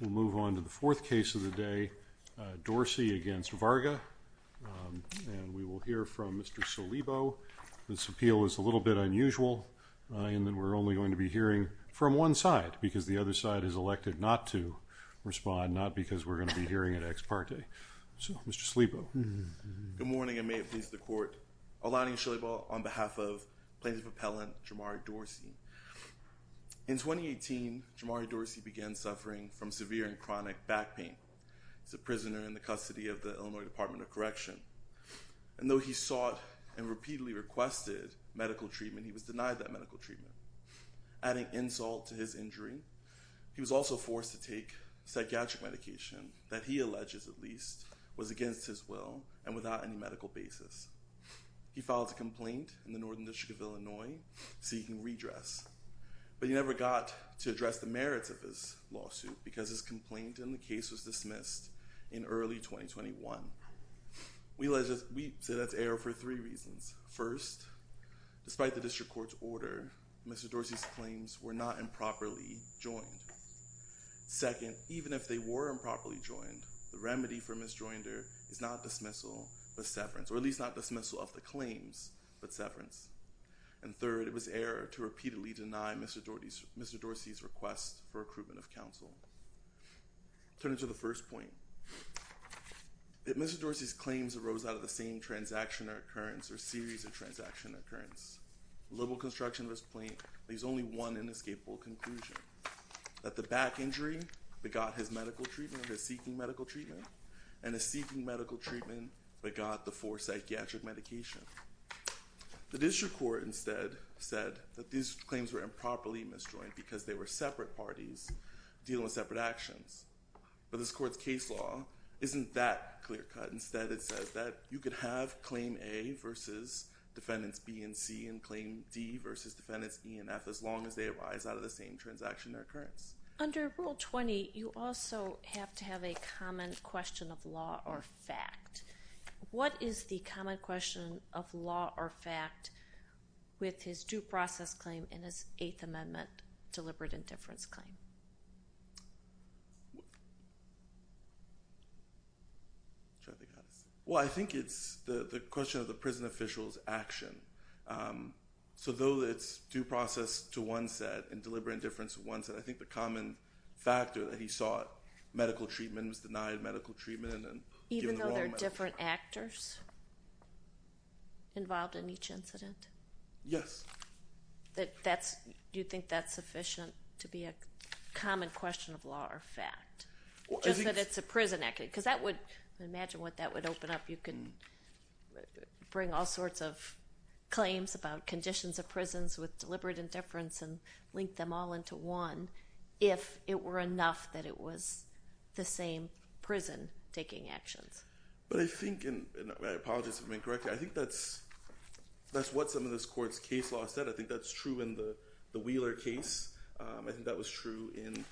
We'll move on to the fourth case of the day, Dorsey against Varga, and we will hear from Mr. Solibo. This appeal is a little bit unusual in that we're only going to be hearing from one side because the other side is elected not to respond, not because we're going to be hearing at ex parte. So, Mr. Solibo. Good morning and may it please the court. Alani Solibo on behalf of plaintiff Dorsey began suffering from severe and chronic back pain. He's a prisoner in the custody of the Illinois Department of Correction, and though he sought and repeatedly requested medical treatment, he was denied that medical treatment. Adding insult to his injury, he was also forced to take psychiatric medication that he alleges, at least, was against his will and without any medical basis. He filed a complaint in the Northern District of Illinois seeking redress, but he never got to address the merits of his lawsuit because his complaint in the case was dismissed in early 2021. We say that's error for three reasons. First, despite the district court's order, Mr. Dorsey's claims were not improperly joined. Second, even if they were improperly joined, the remedy for misjoinder is not dismissal, but severance, or at least not dismissal of the claims, but severance. And third, it was error to repeatedly deny Mr. Dorsey's request for accruitment of counsel. Turning to the first point, if Mr. Dorsey's claims arose out of the same transaction or occurrence or series of transaction occurrence, liberal construction of his claim leaves only one inescapable conclusion, that the back injury begot his medical treatment, his seeking medical treatment, and his seeking medical treatment begot the forced psychiatric medication. The district court instead said that these claims were improperly misjoined because they were separate parties dealing with separate actions. But this court's case law isn't that clear-cut. Instead, it says that you could have claim A versus defendants B and C and claim D versus defendants E and F as long as they arise out of the same transaction or occurrence. Under Rule 20, you also have to have a common question of law or fact. What is the common question of law or fact with his due process claim and his Eighth Amendment deliberate indifference claim? Well, I think it's the question of the prison official's action. So though it's due process to one set and deliberate indifference to one set, I think the common factor that he sought medical treatment was denied medical treatment and given the wrong medical treatment. Even though there are different actors involved in each incident? Yes. That's, do you think that's sufficient to be a common question of law or fact, just that it's a prison act? Because that would, imagine what that would open up. You can bring all sorts of claims about conditions of prisons with deliberate indifference and link them all into one if it were enough that it was the same prison taking actions. But I think, and I apologize if I'm incorrect, I think that's what some of this court's case law said. I think that's true in the Wheeler case. I think that was true in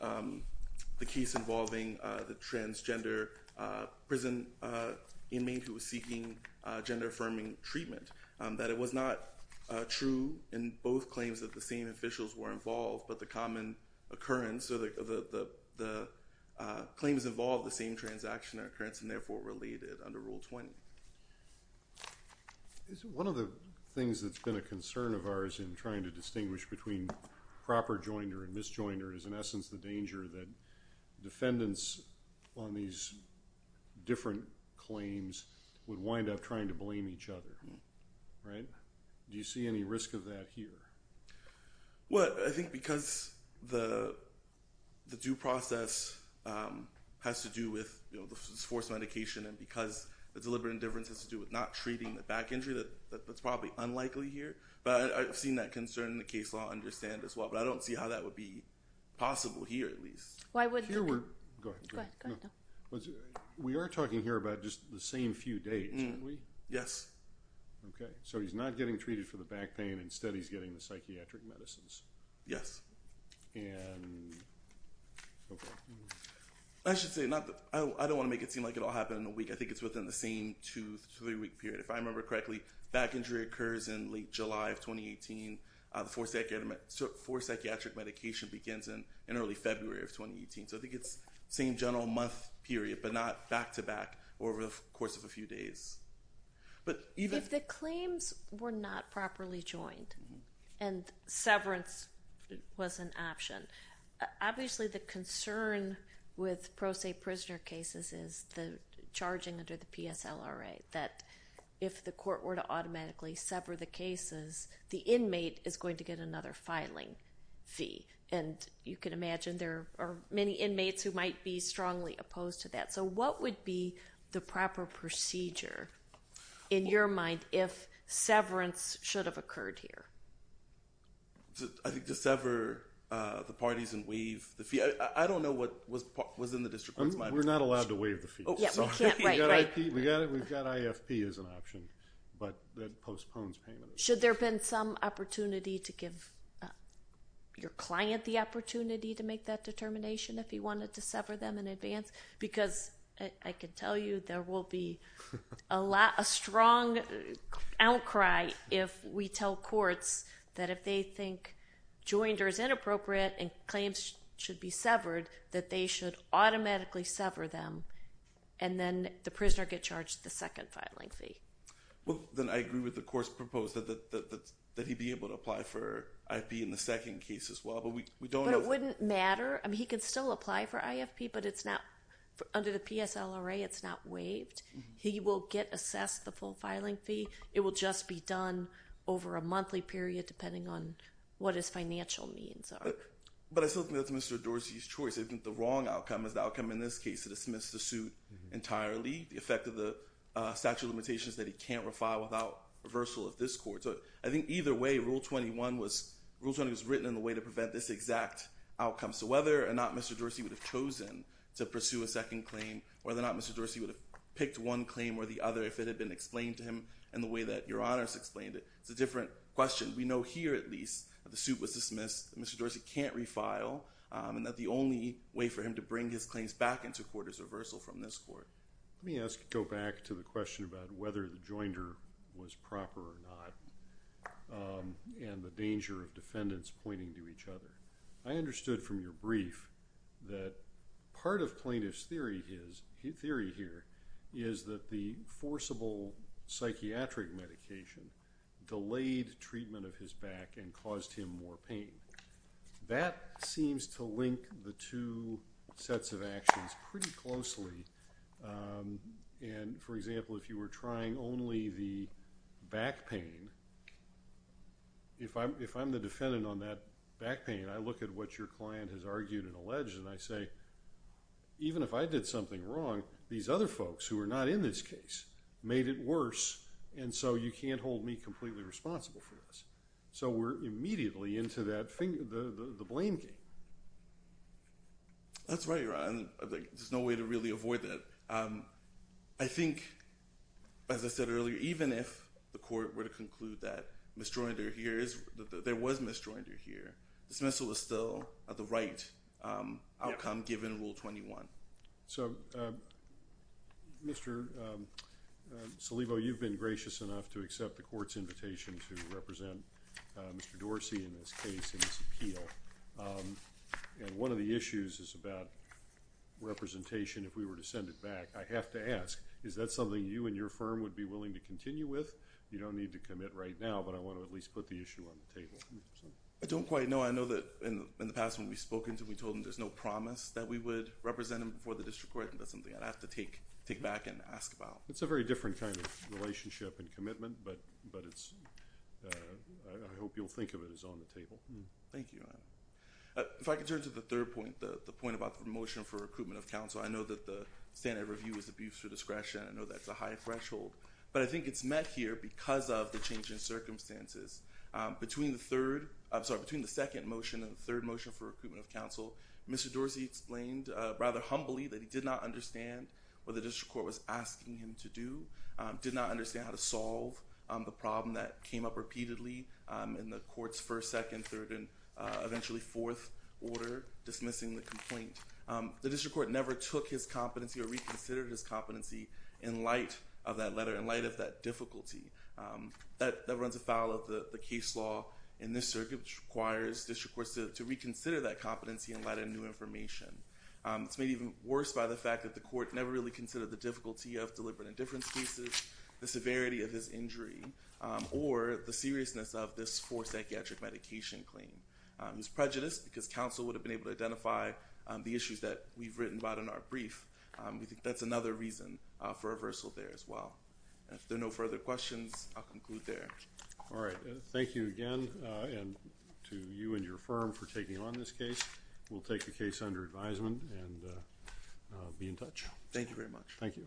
the case involving the transgender prison inmate who was seeking gender-affirming treatment. That it was not true in both claims that the same officials were involved, but the common occurrence or the claims involved the same transaction occurrence and therefore related under Rule 20. One of the things that's been a concern of ours in trying to distinguish between proper joinder and misjoinder is in essence the danger that defendants on these different claims would wind up trying to blame each other. Right? Do you see any risk of that here? Well, I think because the due process has to do with the forced medication and because the deliberate indifference has to do with not treating the back injury that that's probably unlikely here. But I've seen that concern in the case law, understand as well, but I don't see how that would be possible here at least. Why would... We are talking here about just the same few days, aren't we? Yes. Okay, so he's not getting treated for the back pain instead he's getting the psychiatric medicines. Yes. I should say not that I don't want to make it seem like it'll happen in a week. I think it's within the same two to three week period. If I remember correctly, back injury occurs in late July of 2018. The forced psychiatric medication begins in in early February of 2018. So I think it's same general month period but not back-to-back over the course of a few days. But if the claims were not properly joined and severance was an option, obviously the concern with pro se prisoner cases is the charging under the PSLRA that if the court were to automatically sever the cases, the inmate is going to get another filing fee. And you can imagine there are many inmates who might be strongly opposed to have occurred here. I think to sever the parties and waive the fee, I don't know what was in the district's mind. We're not allowed to waive the fee. We've got IFP as an option but that postpones payment. Should there been some opportunity to give your client the opportunity to make that determination if he wanted to sever them in advance? Because I can tell you there will be a strong outcry if we tell courts that if they think joined or is inappropriate and claims should be severed, that they should automatically sever them and then the prisoner get charged the second filing fee. Well then I agree with the court's proposal that he be able to apply for IFP in the second case as well. But it wouldn't matter. I mean he could still apply for IFP but under the PSLRA it's not waived. He will get assessed the full filing fee. It will just be done over a monthly period depending on what his financial means are. But I still think that's Mr. Dorsey's choice. I think the wrong outcome is the outcome in this case to dismiss the suit entirely. The effect of the statute of limitations that he can't refile without reversal of this court. So I think either way Rule 21 was written in a way to prevent this exact outcome. So whether or not Mr. Dorsey would have chosen to pursue a second claim, whether or not Mr. Dorsey would have picked one claim or the other if it had been explained to him in the way that Your Honor's explained it, it's a different question. We know here at least the suit was dismissed. Mr. Dorsey can't refile and that the only way for him to bring his claims back into court is reversal from this court. Let me ask, go back to the question about whether the joinder was proper or not and the other. I understood from your brief that part of plaintiff's theory here is that the forcible psychiatric medication delayed treatment of his back and caused him more pain. That seems to link the two sets of actions pretty closely and for example if you were trying only the back pain, if I'm the defendant on that back pain, I look at what your client has argued and alleged and I say even if I did something wrong, these other folks who are not in this case made it worse and so you can't hold me completely responsible for this. So we're immediately into that finger, the blame game. That's right, Your Honor. There's no way to really avoid that. I think as I said earlier, even if the court were to misjoinder here, dismissal is still the right outcome given Rule 21. So, Mr. Salivo, you've been gracious enough to accept the court's invitation to represent Mr. Dorsey in this case in this appeal and one of the issues is about representation if we were to send it back. I have to ask, is that something you and your firm would be willing to continue with? You don't need to commit right now, but I want to at least put the issue on the table. I don't quite know. I know that in the past when we've spoken to him, we told him there's no promise that we would represent him before the district court and that's something I'd have to take back and ask about. It's a very different kind of relationship and commitment, but I hope you'll think of it as on the table. Thank you, Your Honor. If I could turn to the third point, the point about the motion for recruitment of counsel. I know that the standard review is abuse through discretion. I know that's a high threshold, but I think it's met here because of the changing circumstances. Between the second motion and the third motion for recruitment of counsel, Mr. Dorsey explained rather humbly that he did not understand what the district court was asking him to do, did not understand how to solve the problem that came up repeatedly in the court's first, second, third, and eventually fourth order dismissing the complaint. The district court never took his competency or reconsidered his competency in light of that letter, in light of that difficulty. That runs afoul of the case law in this circuit, which requires district courts to reconsider that competency in light of new information. It's made even worse by the fact that the court never really considered the difficulty of deliberate indifference cases, the severity of his injury, or the seriousness of this forced psychiatric medication claim. It was prejudiced because counsel would have been able to identify the issues that we've written about in our brief. We think that's another reason for reversal there as well. If there are no further questions, I'll conclude there. All right, thank you again and to you and your firm for taking on this case. We'll take the case under advisement and be in touch. Thank you very much. Thank you.